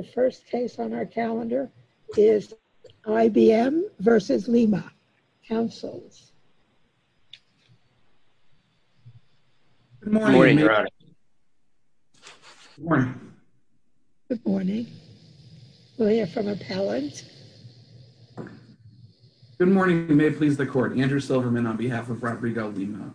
The first case on our calendar is IBM v. Lima. Councils. Good morning, Your Honor. Good morning. Good morning. We'll hear from appellant. Good morning. You may please the court. Andrew Silverman on behalf of Rodrigo Lima.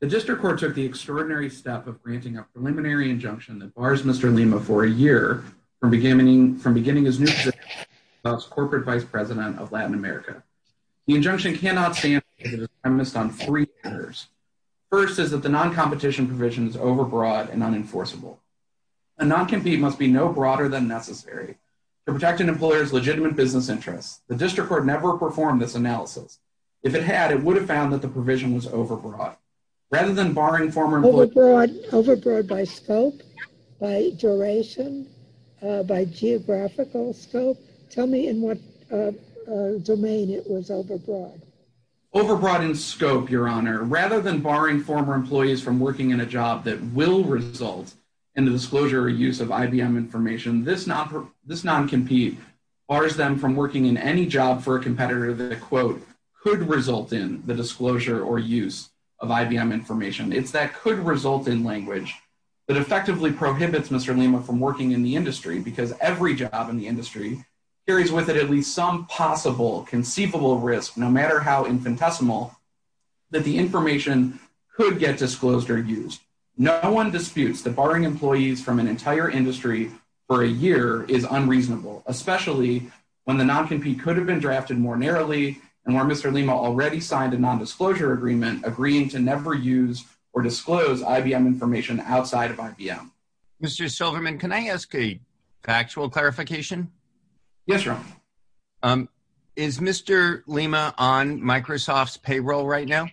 The district court took the extraordinary step of granting a preliminary injunction that bars Mr. Lima for a year from beginning his new position as corporate vice president of Latin America. The injunction cannot stand if it is premised on three matters. First is that the non-competition provision is overbroad and unenforceable. A non-compete must be no broader than necessary to protect an employer's legitimate business interests. The district court never performed this analysis. If it had, it would have found that the provision was overbroad. Rather than barring former... Overbroad by scope? By duration? By geographical scope? Tell me in what domain it was overbroad. Overbroad in scope, Your Honor. Rather than barring former employees from working in a job that will result in the disclosure or use of IBM information, this non-compete bars them from working in any job for a competitor that, quote, could result in the disclosure or use of IBM information. It's that could result in language that effectively prohibits Mr. Lima from working in the industry because every job in the industry carries with it at least some possible conceivable risk, no matter how infinitesimal, that the information could get disclosed or used. No one disputes that barring employees from an entire industry for a year is unreasonable, especially when the non-compete could have been drafted more narrowly and where Mr. Lima already signed a nondisclosure agreement agreeing to never use or disclose IBM information outside of IBM. Mr. Silverman, can I ask a factual clarification? Yes, Your Honor. Is Mr. Lima on Microsoft's payroll right now?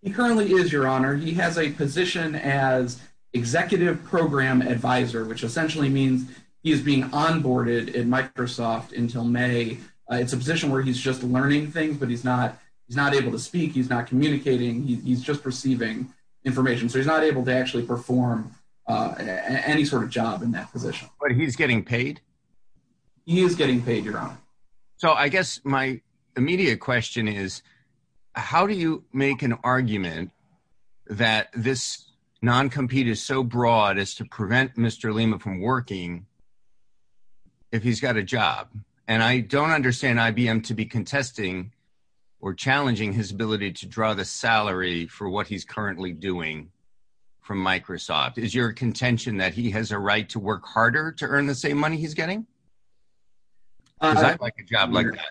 He currently is, Your Honor. He has a position as executive program advisor, which essentially means he is being onboarded in Microsoft until May. It's a position where he's just learning things, but he's not able to speak. He's not communicating. He's just receiving information. So he's not able to actually perform any sort of job in that position. He is getting paid, Your Honor. So I guess my immediate question is, how do you make an argument that this non-compete is so broad as to prevent Mr. Lima from working if he's got a job? And I don't understand IBM to be contesting or challenging his ability to draw the salary for what he's currently doing from Microsoft. Is your contention that he has a right to work harder to earn the same money he's getting? Does that look like a job like that?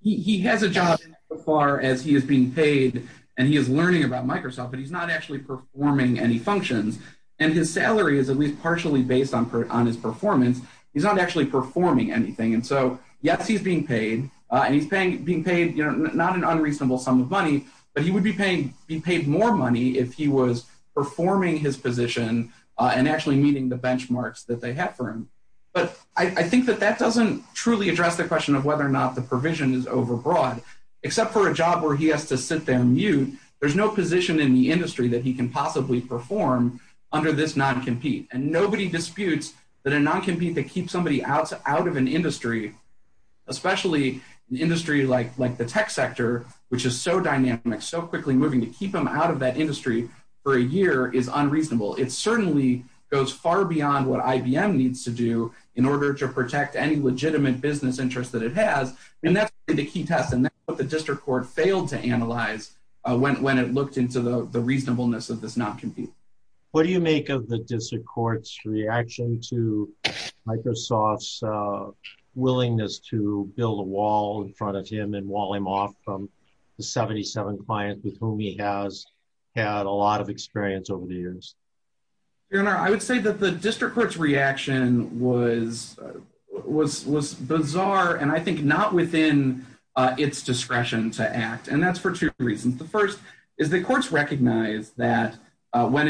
He has a job so far as he is being paid, and he is learning about Microsoft, but he's not actually performing any functions. And his salary is at least partially based on his performance. He's not actually performing anything. And so, yes, he's being paid, and he's being paid not an unreasonable sum of money, but he would be paid more money if he was performing his position and actually meeting the benchmarks that they have for him. But I think that that doesn't truly address the question of whether or not the provision is overbroad. Except for a job where he has to sit there and mute, there's no position in the industry that he can possibly perform under this non-compete. And nobody disputes that a non-compete that keeps somebody out of an industry, especially an industry like the tech sector, which is so dynamic, so quickly moving, to keep them out of that industry for a year is unreasonable. It certainly goes far beyond what IBM needs to do in order to protect any legitimate business interest that it has. And that's the key test. And that's what the district court failed to analyze when it looked into the reasonableness of this non-compete. What do you make of the district court's reaction to Microsoft's willingness to build a wall in front of him and wall him off from the 77 clients with whom he has had a lot of experience over the years? I would say that the district court's reaction was bizarre, and I think not within its discretion to act. And that's for two reasons. The first is that courts recognize that when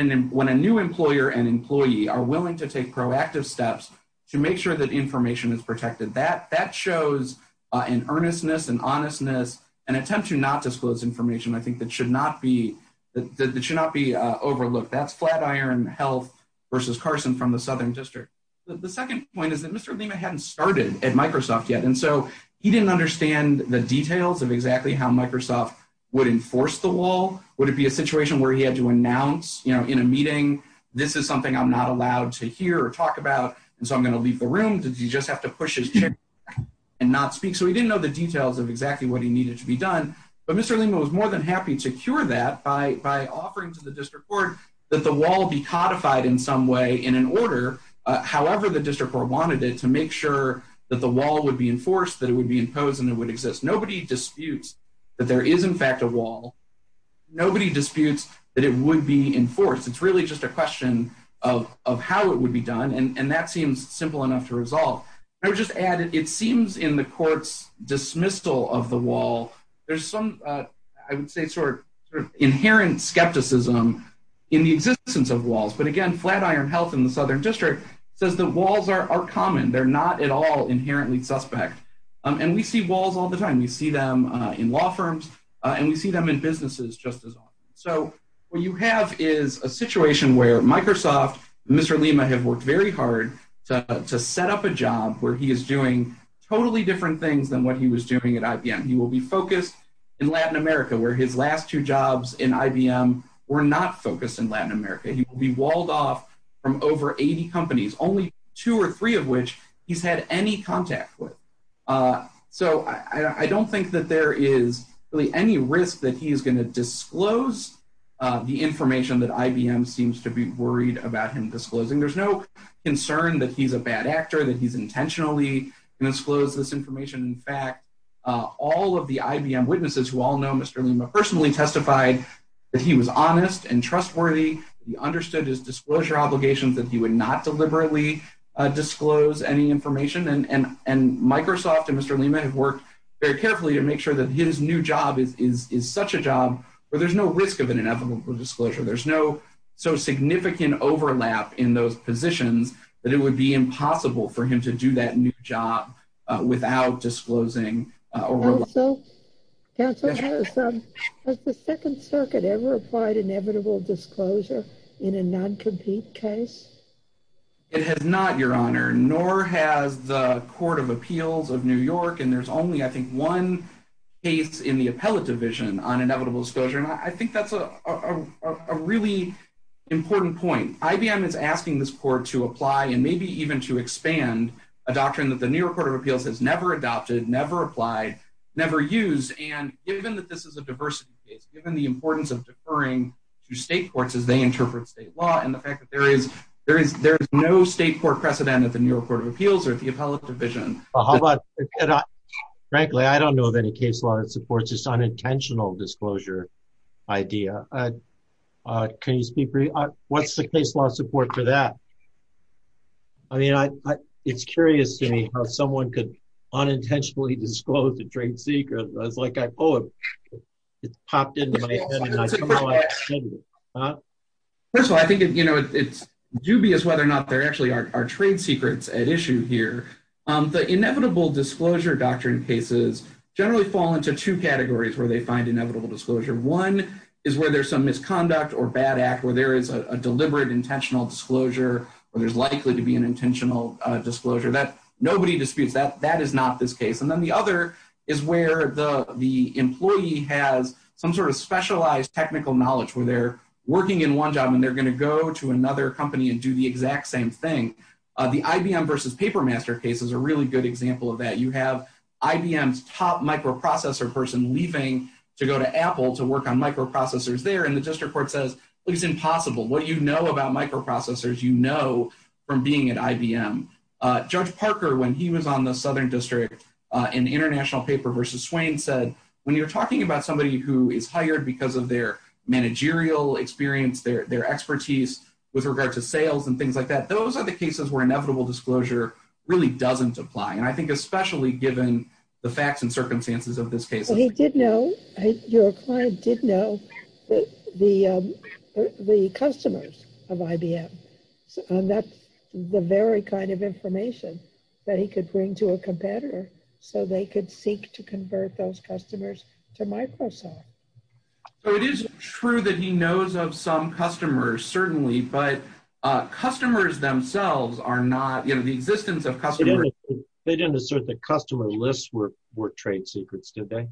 a new employer and employee are willing to take proactive steps to make sure that information is protected, that shows an earnestness, an honestness, an attempt to not disclose information, I think, that should not be overlooked. That's Flatiron Health versus Carson from the Southern District. The second point is that Mr. Lima hadn't started at Microsoft yet, and so he didn't understand the details of exactly how Microsoft would enforce the wall. Would it be a situation where he had to announce in a meeting, this is something I'm not allowed to hear or talk about, and so I'm going to leave the room? Did he just have to push his chair back and not speak? So he didn't know the details of exactly what he needed to be done. But Mr. Lima was more than happy to cure that by offering to the district court that the wall be codified in some way in an order, however the district court wanted it, to make sure that the wall would be enforced, that it would be imposed, and it would exist. Nobody disputes that there is, in fact, a wall. Nobody disputes that it would be enforced. It's really just a question of how it would be done, and that seems simple enough to resolve. I would just add, it seems in the court's dismissal of the wall, there's some, I would say, sort of inherent skepticism in the existence of walls. But again, Flatiron Health in the Southern District says that walls are common. They're not at all inherently suspect, and we see walls all the time. We see them in law firms, and we see them in businesses just as often. So what you have is a situation where Microsoft and Mr. Lima have worked very hard to set up a job where he is doing totally different things than what he was doing at IBM. He will be focused in Latin America, where his last two jobs in IBM were not focused in Latin America. He will be walled off from over 80 companies, only two or three of which he's had any contact with. So I don't think that there is really any risk that he is going to disclose the information that IBM seems to be worried about him disclosing. There's no concern that he's a bad actor, that he's intentionally going to disclose this information. In fact, all of the IBM witnesses who all know Mr. Lima personally testified that he was honest and trustworthy. He understood his disclosure obligations, that he would not deliberately disclose any information. And Microsoft and Mr. Lima have worked very carefully to make sure that his new job is such a job where there's no risk of an inevitable disclosure. There's no so significant overlap in those positions that it would be impossible for him to do that new job without disclosing. Counsel, has the Second Circuit ever applied inevitable disclosure in a non-compete case? It has not, Your Honor, nor has the Court of Appeals of New York. And there's only, I think, one case in the appellate division on inevitable disclosure. And I think that's a really important point. IBM is asking this court to apply and maybe even to expand a doctrine that the New York Court of Appeals has never adopted, never applied, never used. And given that this is a diversity case, given the importance of deferring to state courts as they interpret state law, and the fact that there is no state court precedent at the New York Court of Appeals or at the appellate division. Frankly, I don't know of any case law that supports this unintentional disclosure idea. Can you speak for me? What's the case law support for that? I mean, it's curious to me how someone could unintentionally disclose a trade secret. It's like, oh, it popped into my head. First of all, I think it's dubious whether or not there actually are trade secrets at issue here. The inevitable disclosure doctrine cases generally fall into two categories where they find inevitable disclosure. One is where there's some misconduct or bad act, where there is a deliberate intentional disclosure, where there's likely to be an intentional disclosure that nobody disputes that that is not this case. And then the other is where the employee has some sort of specialized technical knowledge where they're working in one job and they're going to go to another company and do the exact same thing. The IBM versus Papermaster case is a really good example of that. You have IBM's top microprocessor person leaving to go to Apple to work on microprocessors there. And the district court says, it's impossible. What you know about microprocessors, you know from being at IBM. Judge Parker, when he was on the Southern District in the international paper versus Swain, said when you're talking about somebody who is hired because of their managerial experience, their expertise with regard to sales and things like that, those are the cases where inevitable disclosure really doesn't apply. And I think especially given the facts and circumstances of this case. So he did know, your client did know the customers of IBM. And that's the very kind of information that he could bring to a competitor so they could seek to convert those customers to Microsoft. So it is true that he knows of some customers, certainly. But customers themselves are not, you know, the existence of customers. They didn't assert that customer lists were trade secrets, did they?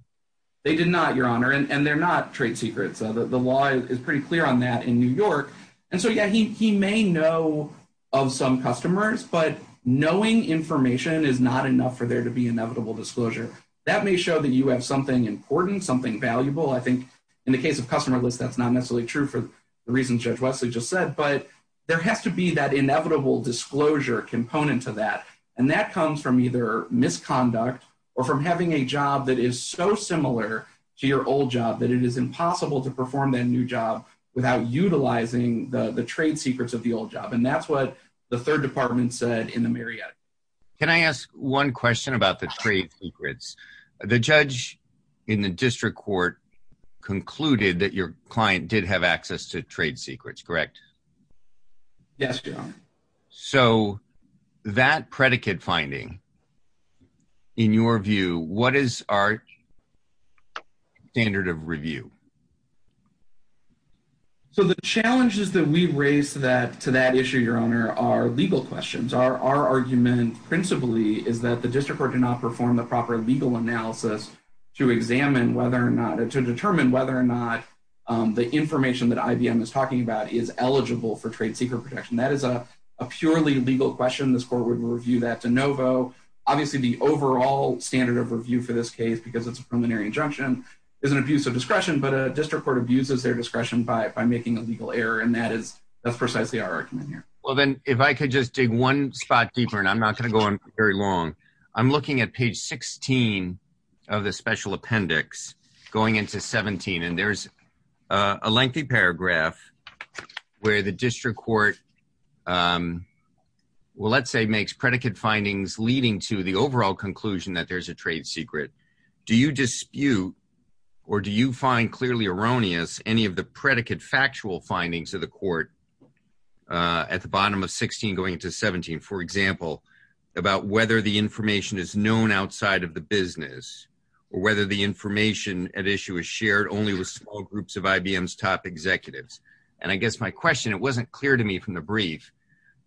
They did not, your honor. And they're not trade secrets. The law is pretty clear on that in New York. And so, yeah, he may know of some customers, but knowing information is not enough for there to be inevitable disclosure. That may show that you have something important, something valuable. I think in the case of customer lists, that's not necessarily true for the reasons Judge Wesley just said. But there has to be that inevitable disclosure component to that. And that comes from either misconduct or from having a job that is so similar to your old job that it is impossible to perform that new job without utilizing the trade secrets of the old job. And that's what the third department said in the Marietta case. Can I ask one question about the trade secrets? The judge in the district court concluded that your client did have access to trade secrets, correct? Yes, your honor. So that predicate finding, in your view, what is our standard of review? So the challenges that we raise that to that issue, your honor, are legal questions. Our argument principally is that the district court did not perform the proper legal analysis to examine whether or not to determine whether or not the information that IBM is talking about is eligible for trade secret protection. That is a purely legal question. This court would review that de novo. Obviously, the overall standard of review for this case, because it's a preliminary injunction, is an abuse of discretion. But a district court abuses their discretion by making a legal error. And that is precisely our argument here. Well, then, if I could just dig one spot deeper, and I'm not going to go on very long, I'm looking at page 16 of the special appendix going into 17. And there's a lengthy paragraph where the district court, well, let's say, makes predicate findings leading to the overall conclusion that there's a trade secret. Do you dispute or do you find clearly erroneous any of the predicate factual findings of the court at the bottom of 16 going into 17, for example, about whether the information is known outside of the business or whether the information at issue is shared only with small groups of IBM's top executives? And I guess my question, it wasn't clear to me from the brief.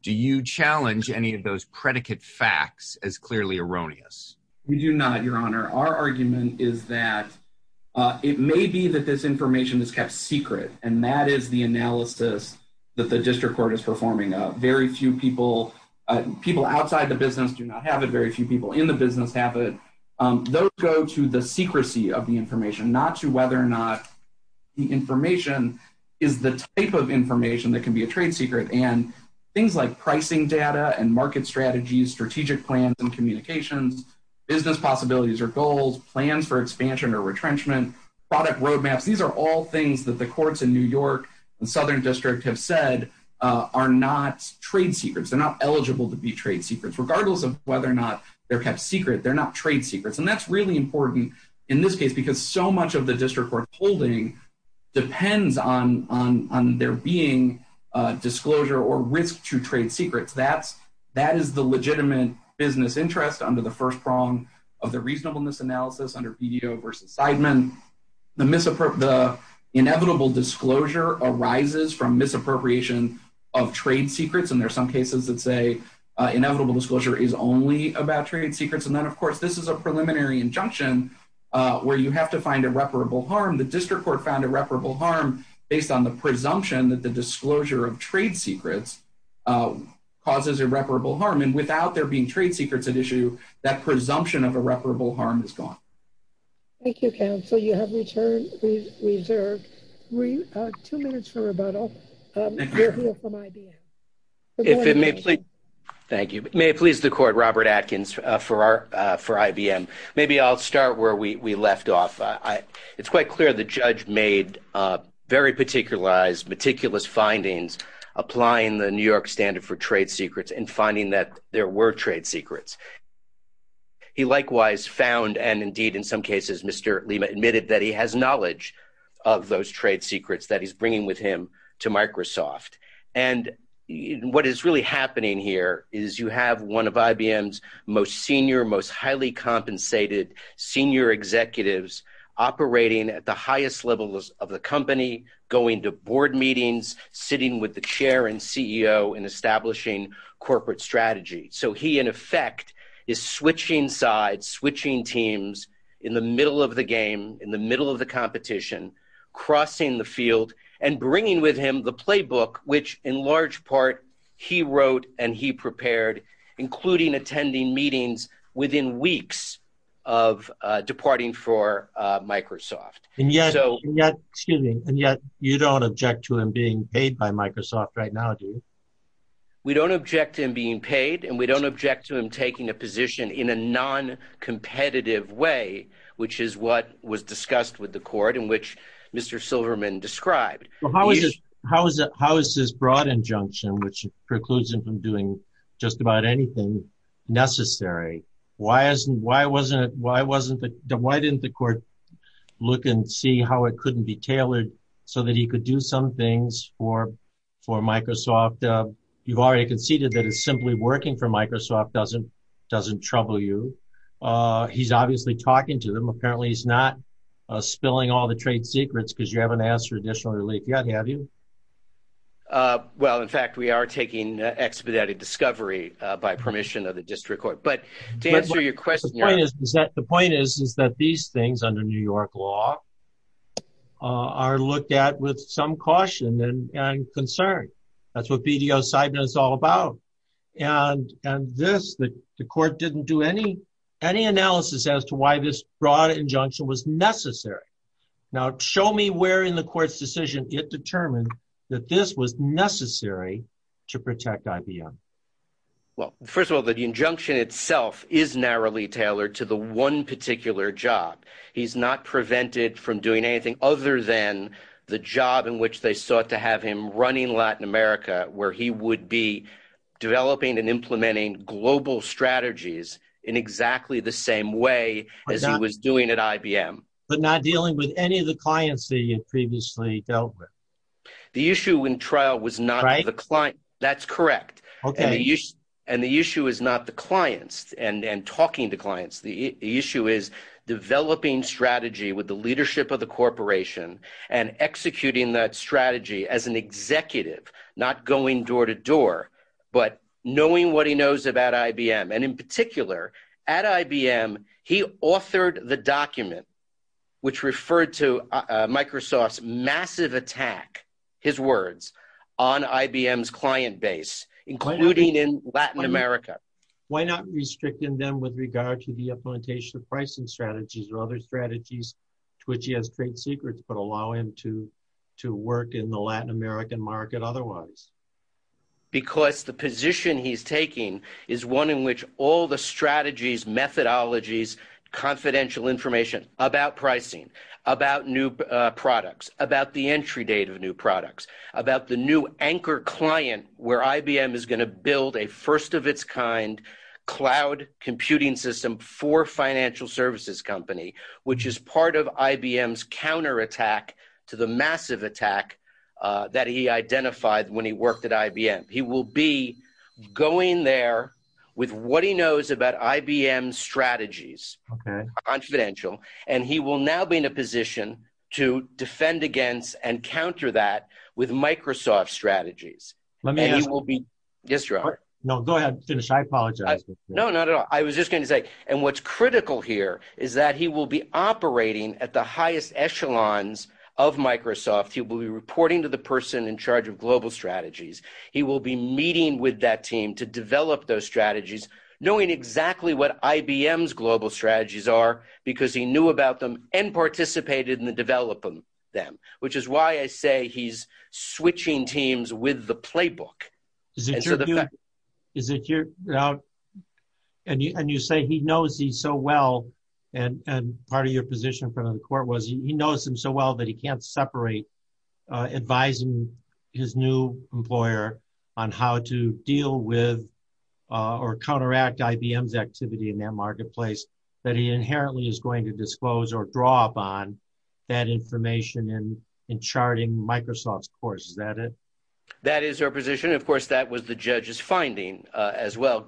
Do you challenge any of those predicate facts as clearly erroneous? We do not, Your Honor. Our argument is that it may be that this information is kept secret, and that is the analysis that the district court is performing. Very few people, people outside the business do not have it. Very few people in the business have it. Those go to the secrecy of the information, not to whether or not the information is the type of information that can be a trade secret. And things like pricing data and market strategies, strategic plans and communications, business possibilities or goals, plans for expansion or retrenchment, product roadmaps, these are all things that the courts in New York and Southern District have said are not trade secrets. They're not eligible to be trade secrets, regardless of whether or not they're kept secret. They're not trade secrets. And that's really important in this case, because so much of the district court holding depends on there being disclosure or risk to trade secrets. That is the legitimate business interest under the first prong of the reasonableness analysis, under VDO versus Seidman. The inevitable disclosure arises from misappropriation of trade secrets, and there are some cases that say inevitable disclosure is only about trade secrets, and then, of course, this is a preliminary injunction where you have to find irreparable harm. The district court found irreparable harm based on the presumption that the disclosure of trade secrets causes irreparable harm. And without there being trade secrets at issue, that presumption of irreparable harm is gone. Thank you, counsel. You have returned the reserve. Two minutes for rebuttal. We're here from IBM. Thank you. May it please the court, Robert Atkins for IBM. Maybe I'll start where we left off. It's quite clear the judge made very particularized, meticulous findings applying the New York standard for trade secrets and finding that there were trade secrets. He likewise found, and indeed in some cases, Mr. Lima admitted that he has knowledge of those trade secrets that he's bringing with him to Microsoft. And what is really happening here is you have one of IBM's most senior, most highly compensated senior executives operating at the highest levels of the company, going to board meetings, sitting with the chair and CEO and establishing corporate strategy. So he, in effect, is switching sides, switching teams in the middle of the game, in the middle of the competition, crossing the field and bringing with him the playbook, which in large part he wrote and he prepared, including attending meetings within weeks of departing for Microsoft. And yet you don't object to him being paid by Microsoft right now, do you? We don't object to him being paid and we don't object to him taking a position in a non-competitive way, which is what was discussed with the court in which Mr. Silverman described. How is this broad injunction, which precludes him from doing just about anything necessary, why didn't the court look and see how it couldn't be tailored so that he could do some things for Microsoft? You've already conceded that it's simply working for Microsoft doesn't trouble you. He's obviously talking to them. Apparently, he's not spilling all the trade secrets because you haven't asked for additional relief yet, have you? Well, in fact, we are taking expedited discovery by permission of the district court. But to answer your question, the point is that these things under New York law are looked at with some caution and concern. That's what BDO-Sideman is all about. And this, the court didn't do any analysis as to why this broad injunction was necessary. Now, show me where in the court's decision it determined that this was necessary to protect IBM. Well, first of all, the injunction itself is narrowly tailored to the one particular job. He's not prevented from doing anything other than the job in which they sought to have him running Latin America, where he would be developing and implementing global strategies in exactly the same way as he was doing at IBM. But not dealing with any of the clients that he had previously dealt with? The issue in trial was not the client. That's correct. And the issue is not the clients and talking to clients. The issue is developing strategy with the leadership of the corporation and executing that strategy as an executive, not going door to door, but knowing what he knows about IBM. And in particular, at IBM, he authored the document which referred to Microsoft's massive attack, his words, on IBM's client base, including in Latin America. Why not restricting them with regard to the implementation of pricing strategies or other strategies to which he has trade secrets, but allow him to work in the Latin American market otherwise? Because the position he's taking is one in which all the strategies, methodologies, confidential information about pricing, about new products, about the entry date of new products, about the new anchor client, where IBM is going to build a first of its kind cloud computing system for financial services company, which is part of IBM's counterattack to the massive attack that he identified when he worked at IBM. He will be going there with what he knows about IBM's strategies, confidential, and he will now be in a position to defend against and counter that with Microsoft's strategies. Let me ask. Yes, Robert. No, go ahead. Finish. I apologize. No, not at all. I was just going to say, and what's critical here is that he will be operating at the highest echelons of Microsoft. He will be reporting to the person in charge of global strategies. He will be meeting with that team to develop those strategies, knowing exactly what IBM's global strategies are, because he knew about them and participated in the development of them, which is why I say he's switching teams with the playbook. And you say he knows these so well, and part of your position in front of the court was, he knows them so well that he can't separate advising his new employer on how to deal with or counteract IBM's activity in that marketplace, that he inherently is going to disclose or draw upon that information in charting Microsoft's course. Is that it? That's my position. Of course, that was the judge's finding as well.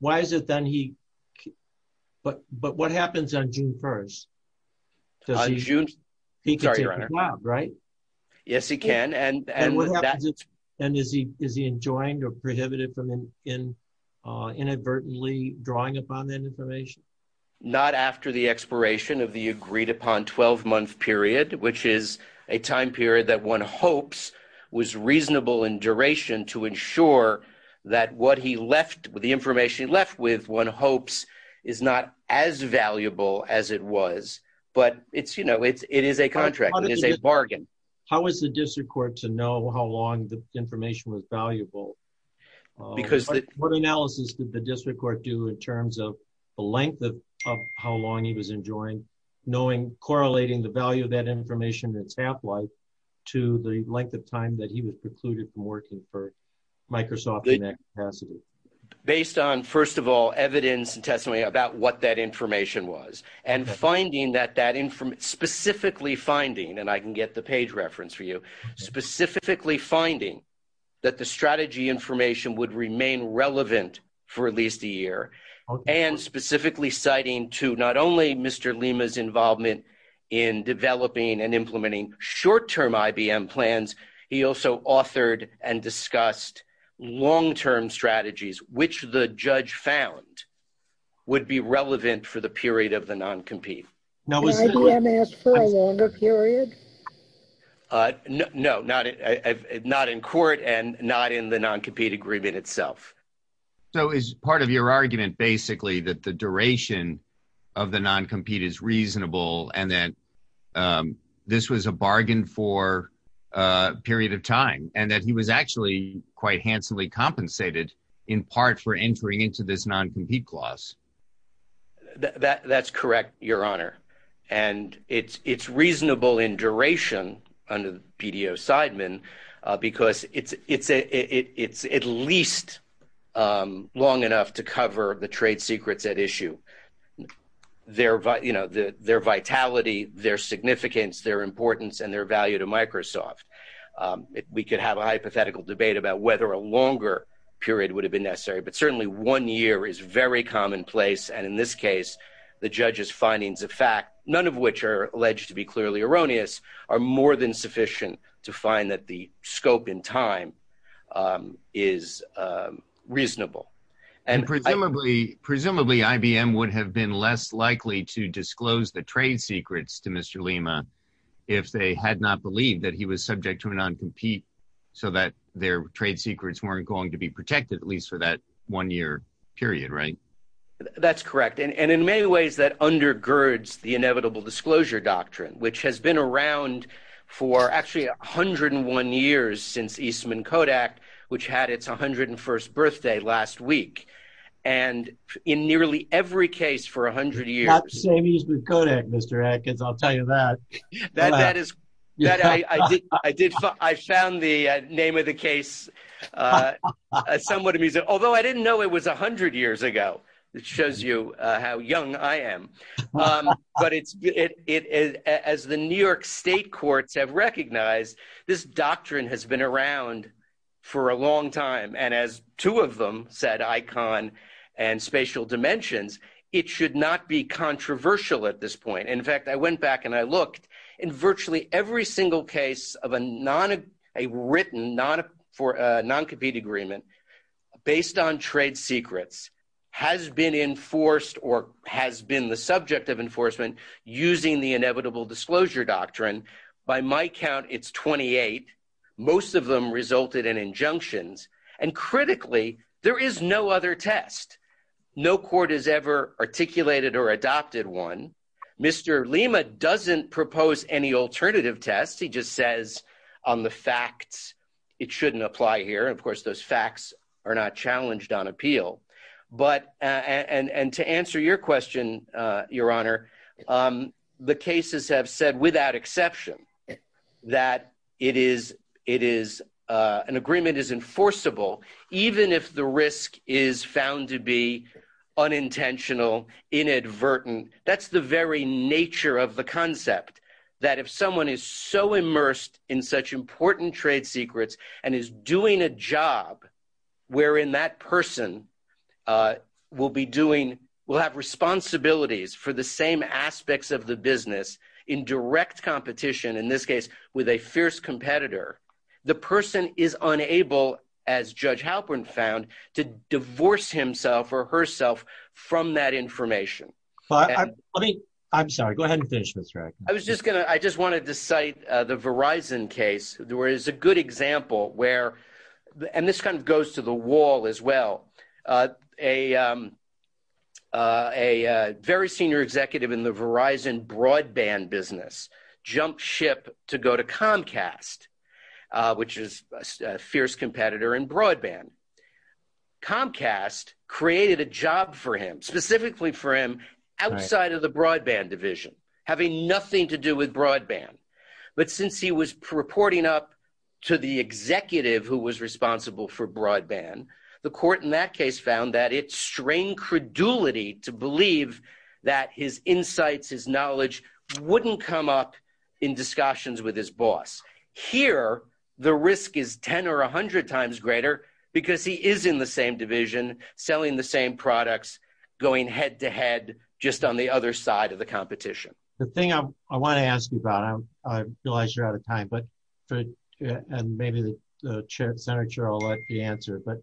Why is it then he, but what happens on June 1st? He can take the job, right? Yes, he can. And is he enjoined or prohibited from inadvertently drawing upon that information? Not after the expiration of the agreed-upon 12-month period, which is a time period that one hopes was reasonable in duration to ensure that what he left, the information he left with, one hopes is not as valuable as it was. But it's, you know, it is a contract. It is a bargain. How is the district court to know how long the information was valuable? What analysis did the district court do in terms of the length of how long he was enjoined, knowing, correlating the value of that information in its half-life to the length of time that he was precluded from working for Microsoft in that capacity? Based on, first of all, evidence and testimony about what that information was, and finding that that information, specifically finding, and I can get the page reference for you, specifically finding that the strategy information would remain relevant for at least a year, and specifically citing to not only Mr. Lima's involvement in developing and implementing short-term IBM plans, he also authored and discussed long-term strategies, which the judge found would be relevant for the period of the non-compete. Was IBM asked for a longer period? No, not in court and not in the non-compete agreement itself. So is part of your argument basically that the duration of the non-compete is reasonable, and that this was a bargain for a period of time, and that he was actually quite handsomely compensated in part for entering into this non-compete clause? That's correct, Your Honor, and it's reasonable in duration under PDO Seidman because it's at least long enough to cover the trade secrets at issue, their vitality, their significance, their importance, and their value to Microsoft. We could have a hypothetical debate about whether a longer period would have been necessary, but certainly one year is very commonplace, and in this case the judge's findings of fact, none of which are alleged to be clearly erroneous, are more than sufficient to find that the scope in time is reasonable. And presumably IBM would have been less likely to disclose the trade secrets to Mr. Lima if they had not believed that he was subject to a non-compete so that their trade secrets weren't going to be protected at least for that one year period, right? That's correct, and in many ways that undergirds the inevitable disclosure doctrine, which has been around for actually 101 years since Eastman Kodak, which had its 101st birthday last week, and in nearly every case for 100 years… Not the same Eastman Kodak, Mr. Atkins, I'll tell you that. I found the name of the case somewhat amusing, although I didn't know it was 100 years ago, which shows you how young I am. But as the New York state courts have recognized, this doctrine has been around for a long time, and as two of them said, ICON and Spatial Dimensions, it should not be controversial at this point. In fact, I went back and I looked. In virtually every single case of a written non-compete agreement based on trade secrets has been enforced or has been the subject of enforcement using the inevitable disclosure doctrine. By my count, it's 28. Most of them resulted in injunctions, and critically, there is no other test. No court has ever articulated or adopted one. Mr. Lima doesn't propose any alternative test. He just says on the facts it shouldn't apply here. Of course, those facts are not challenged on appeal. And to answer your question, Your Honor, the cases have said without exception that an agreement is enforceable even if the risk is found to be unintentional, inadvertent. That's the very nature of the concept, that if someone is so immersed in such important trade secrets and is doing a job wherein that person will have responsibilities for the same aspects of the business in direct competition, in this case with a fierce competitor, the person is unable, as Judge Halpern found, to divorce himself or herself from that information. I'm sorry. Go ahead and finish, Mr. Rankin. I just wanted to cite the Verizon case. There is a good example where – and this kind of goes to the wall as well. A very senior executive in the Verizon broadband business jumped ship to go to Comcast, which is a fierce competitor in broadband. Comcast created a job for him, specifically for him outside of the broadband division, having nothing to do with broadband. But since he was reporting up to the executive who was responsible for broadband, the court in that case found that it strained credulity to believe that his insights, his knowledge wouldn't come up in discussions with his boss. Here, the risk is 10 or 100 times greater because he is in the same division, selling the same products, going head-to-head just on the other side of the competition. The thing I want to ask you about – I realize you're out of time, and maybe the senator will let you answer, but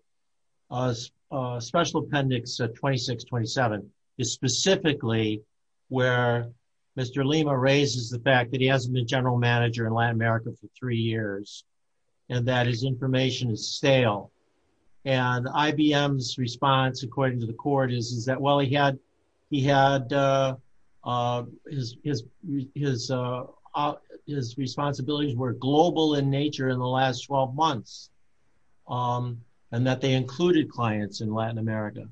Special Appendix 2627 is specifically where Mr. Lima raises the fact that he hasn't been general manager in Latin America for three years and that his information is stale. And IBM's response, according to the court, is that his responsibilities were global in nature in the last 12 months and that they included clients in Latin America.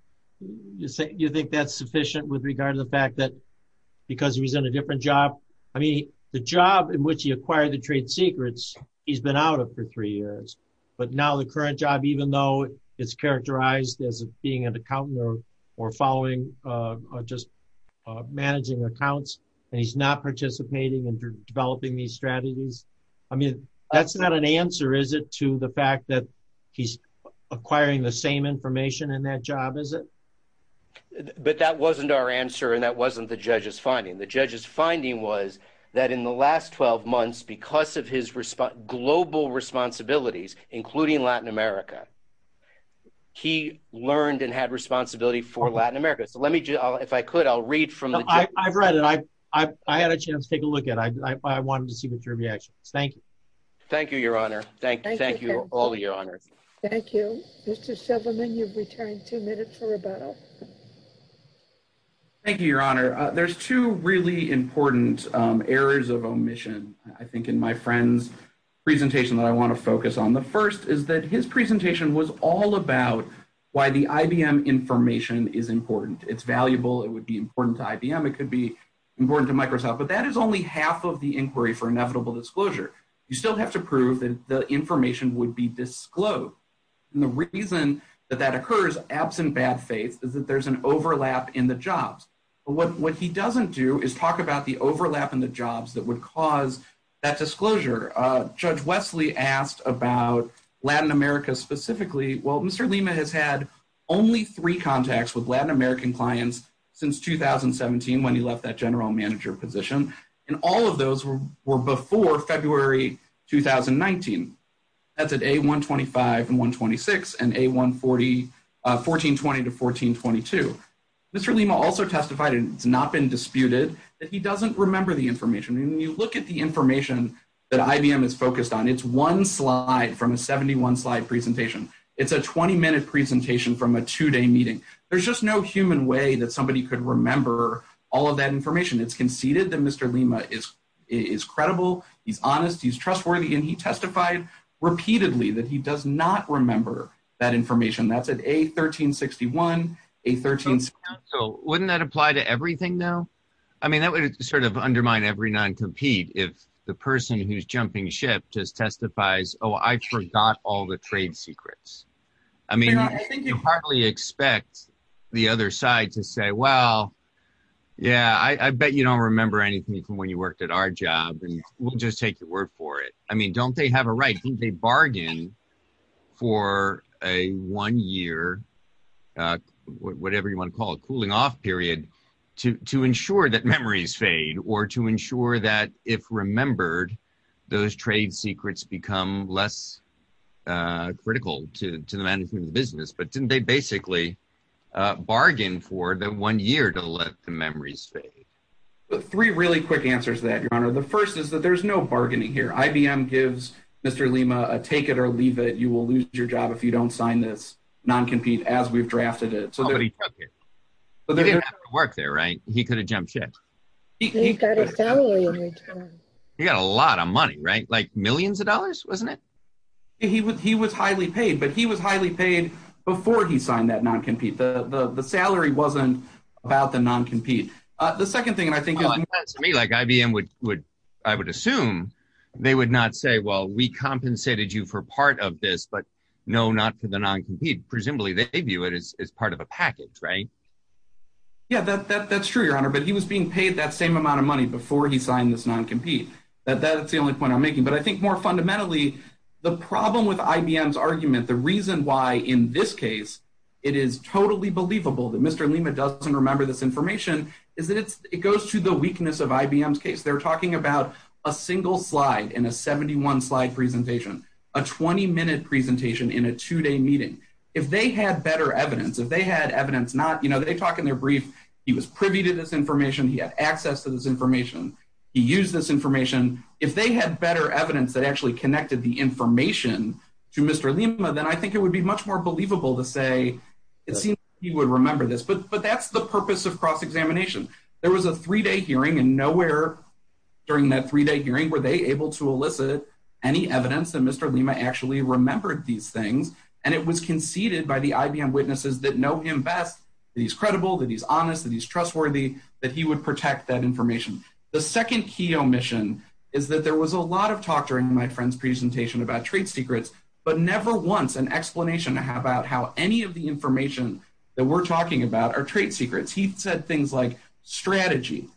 Do you think that's sufficient with regard to the fact that because he was in a different job – I mean, the job in which he acquired the trade secrets, he's been out of for three years. But now the current job, even though it's characterized as being an accountant or following or just managing accounts, and he's not participating in developing these strategies. I mean, that's not an answer, is it, to the fact that he's acquiring the same information in that job, is it? But that wasn't our answer, and that wasn't the judge's finding. The judge's finding was that in the last 12 months, because of his global responsibilities, including Latin America, he learned and had responsibility for Latin America. So let me – if I could, I'll read from the – No, I've read it. I had a chance to take a look at it. I wanted to see what your reaction was. Thank you. Thank you, Your Honor. Thank you, all of you, Your Honors. Thank you. Mr. Silverman, you've returned two minutes for rebuttal. Thank you, Your Honor. There's two really important errors of omission, I think, in my friend's presentation that I want to focus on. The first is that his presentation was all about why the IBM information is important. It's valuable. It would be important to IBM. It could be important to Microsoft. But that is only half of the inquiry for inevitable disclosure. You still have to prove that the information would be disclosed. And the reason that that occurs, absent bad faith, is that there's an overlap in the jobs. But what he doesn't do is talk about the overlap in the jobs that would cause that disclosure. Judge Wesley asked about Latin America specifically. Well, Mr. Lima has had only three contacts with Latin American clients since 2017, when he left that general manager position, and all of those were before February 2019. That's at A125 and A126 and A1420 to A1422. Mr. Lima also testified, and it's not been disputed, that he doesn't remember the information. When you look at the information that IBM is focused on, it's one slide from a 71-slide presentation. It's a 20-minute presentation from a two-day meeting. There's just no human way that somebody could remember all of that information. It's conceded that Mr. Lima is credible, he's honest, he's trustworthy, and he testified repeatedly that he does not remember that information. That's at A1361, A1362. Wouldn't that apply to everything, though? I mean, that would sort of undermine every non-compete if the person who's jumping ship just testifies, oh, I forgot all the trade secrets. I mean, I think you hardly expect the other side to say, well, yeah, I bet you don't remember anything from when you worked at our job, and we'll just take your word for it. I mean, don't they have a right? Didn't they bargain for a one-year, whatever you want to call it, cooling-off period to ensure that memories fade or to ensure that if remembered, those trade secrets become less critical to the management of the business? But didn't they basically bargain for the one year to let the memories fade? The first is that there's no bargaining here. IBM gives Mr. Lima a take-it-or-leave-it, you-will-lose-your-job-if-you-don't-sign-this non-compete as we've drafted it. You didn't have to work there, right? He could have jumped ship. He got a lot of money, right? Like millions of dollars, wasn't it? He was highly paid, but he was highly paid before he signed that non-compete. The salary wasn't about the non-compete. To me, IBM would assume they would not say, well, we compensated you for part of this, but no, not for the non-compete. Presumably, they view it as part of a package, right? Yeah, that's true, Your Honor. But he was being paid that same amount of money before he signed this non-compete. That's the only point I'm making. But I think more fundamentally, the problem with IBM's argument, the reason why in this case it is totally believable that Mr. Lima doesn't remember this information, is that it goes to the weakness of IBM's case. They're talking about a single slide in a 71-slide presentation, a 20-minute presentation in a two-day meeting. If they had better evidence, if they had evidence not – you know, they talk in their brief, he was privy to this information, he had access to this information, he used this information. If they had better evidence that actually connected the information to Mr. Lima, then I think it would be much more believable to say it seems he would remember this. But that's the purpose of cross-examination. There was a three-day hearing, and nowhere during that three-day hearing were they able to elicit any evidence that Mr. Lima actually remembered these things, and it was conceded by the IBM witnesses that know him best, that he's credible, that he's honest, that he's trustworthy, that he would protect that information. The second key omission is that there was a lot of talk during my friend's presentation about trade secrets, but never once an explanation about how any of the information that we're talking about are trade secrets. He said things like strategy,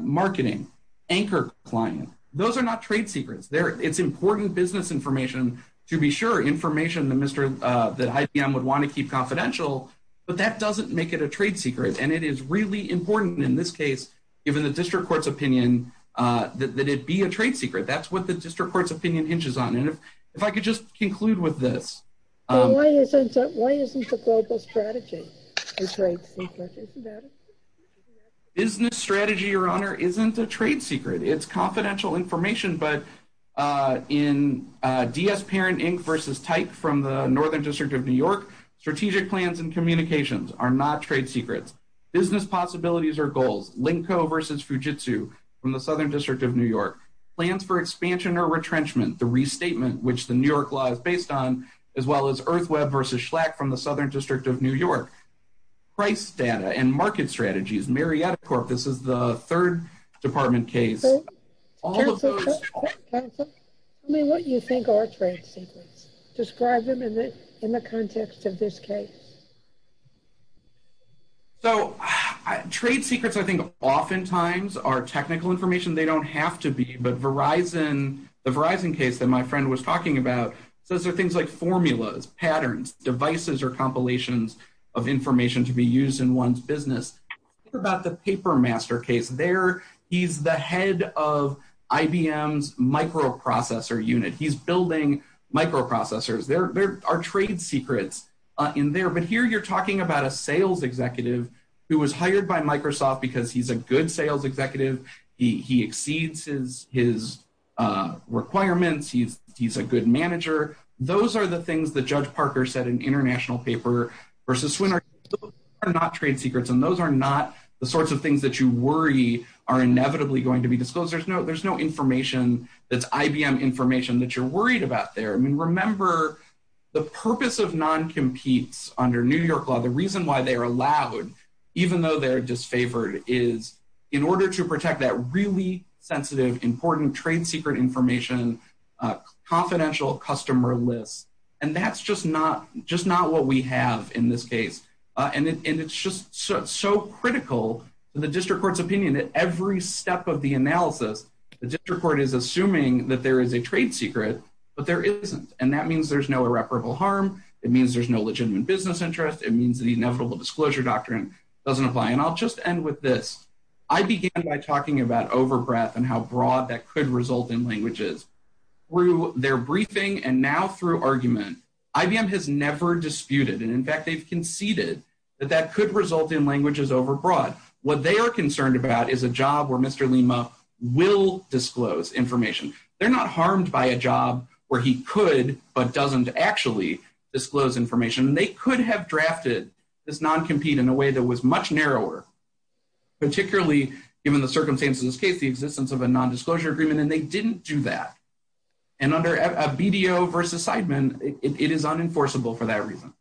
marketing, anchor client. Those are not trade secrets. It's important business information to be sure, information that IBM would want to keep confidential, but that doesn't make it a trade secret, and it is really important in this case, given the district court's opinion, that it be a trade secret. That's what the district court's opinion hinges on, and if I could just conclude with this. Why isn't the global strategy a trade secret? Business strategy, Your Honor, isn't a trade secret. It's confidential information, but in DS Parent, Inc. v. Type from the Northern District of New York, strategic plans and communications are not trade secrets. Business possibilities are goals. Linko v. Fujitsu from the Southern District of New York. Plans for expansion or retrenchment, the restatement, which the New York law is based on, as well as Earth Web v. Schlack from the Southern District of New York. Price data and market strategies, Marietta Corp. This is the third department case. Counsel, tell me what you think are trade secrets. Describe them in the context of this case. So trade secrets, I think, oftentimes are technical information. They don't have to be, but the Verizon case that my friend was talking about, those are things like formulas, patterns, devices, or compilations of information to be used in one's business. Think about the paper master case there. He's the head of IBM's microprocessor unit. He's building microprocessors. There are trade secrets in there. But here you're talking about a sales executive who was hired by Microsoft because he's a good sales executive. He exceeds his requirements. He's a good manager. Those are the things that Judge Parker said in an international paper versus Swinner. Those are not trade secrets, and those are not the sorts of things that you worry are inevitably going to be disclosed. There's no information that's IBM information that you're worried about there. I mean, remember, the purpose of non-competes under New York law, the reason why they are allowed, even though they're disfavored, is in order to protect that really sensitive, important trade secret information, confidential customer list, and that's just not what we have in this case. And it's just so critical to the district court's opinion that every step of the analysis, the district court is assuming that there is a trade secret, but there isn't, and that means there's no irreparable harm. It means there's no legitimate business interest. It means the inevitable disclosure doctrine doesn't apply, and I'll just end with this. I began by talking about overbreath and how broad that could result in languages. Through their briefing and now through argument, IBM has never disputed, and in fact they've conceded that that could result in languages overbroad. What they are concerned about is a job where Mr. Lima will disclose information. They're not harmed by a job where he could but doesn't actually disclose information. They could have drafted this non-compete in a way that was much narrower, particularly given the circumstances of this case, the existence of a non-disclosure agreement, and they didn't do that. And under a BDO versus Seidman, it is unenforceable for that reason.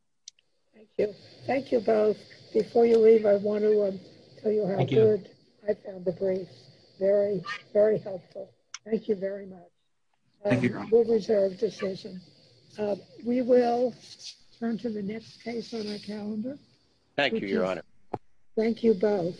Thank you. Thank you both. Before you leave, I want to tell you how good I found the brief. Very, very helpful. Thank you very much. Thank you, Your Honor. A well-reserved decision. We will turn to the next case on our calendar. Thank you, Your Honor. Thank you both.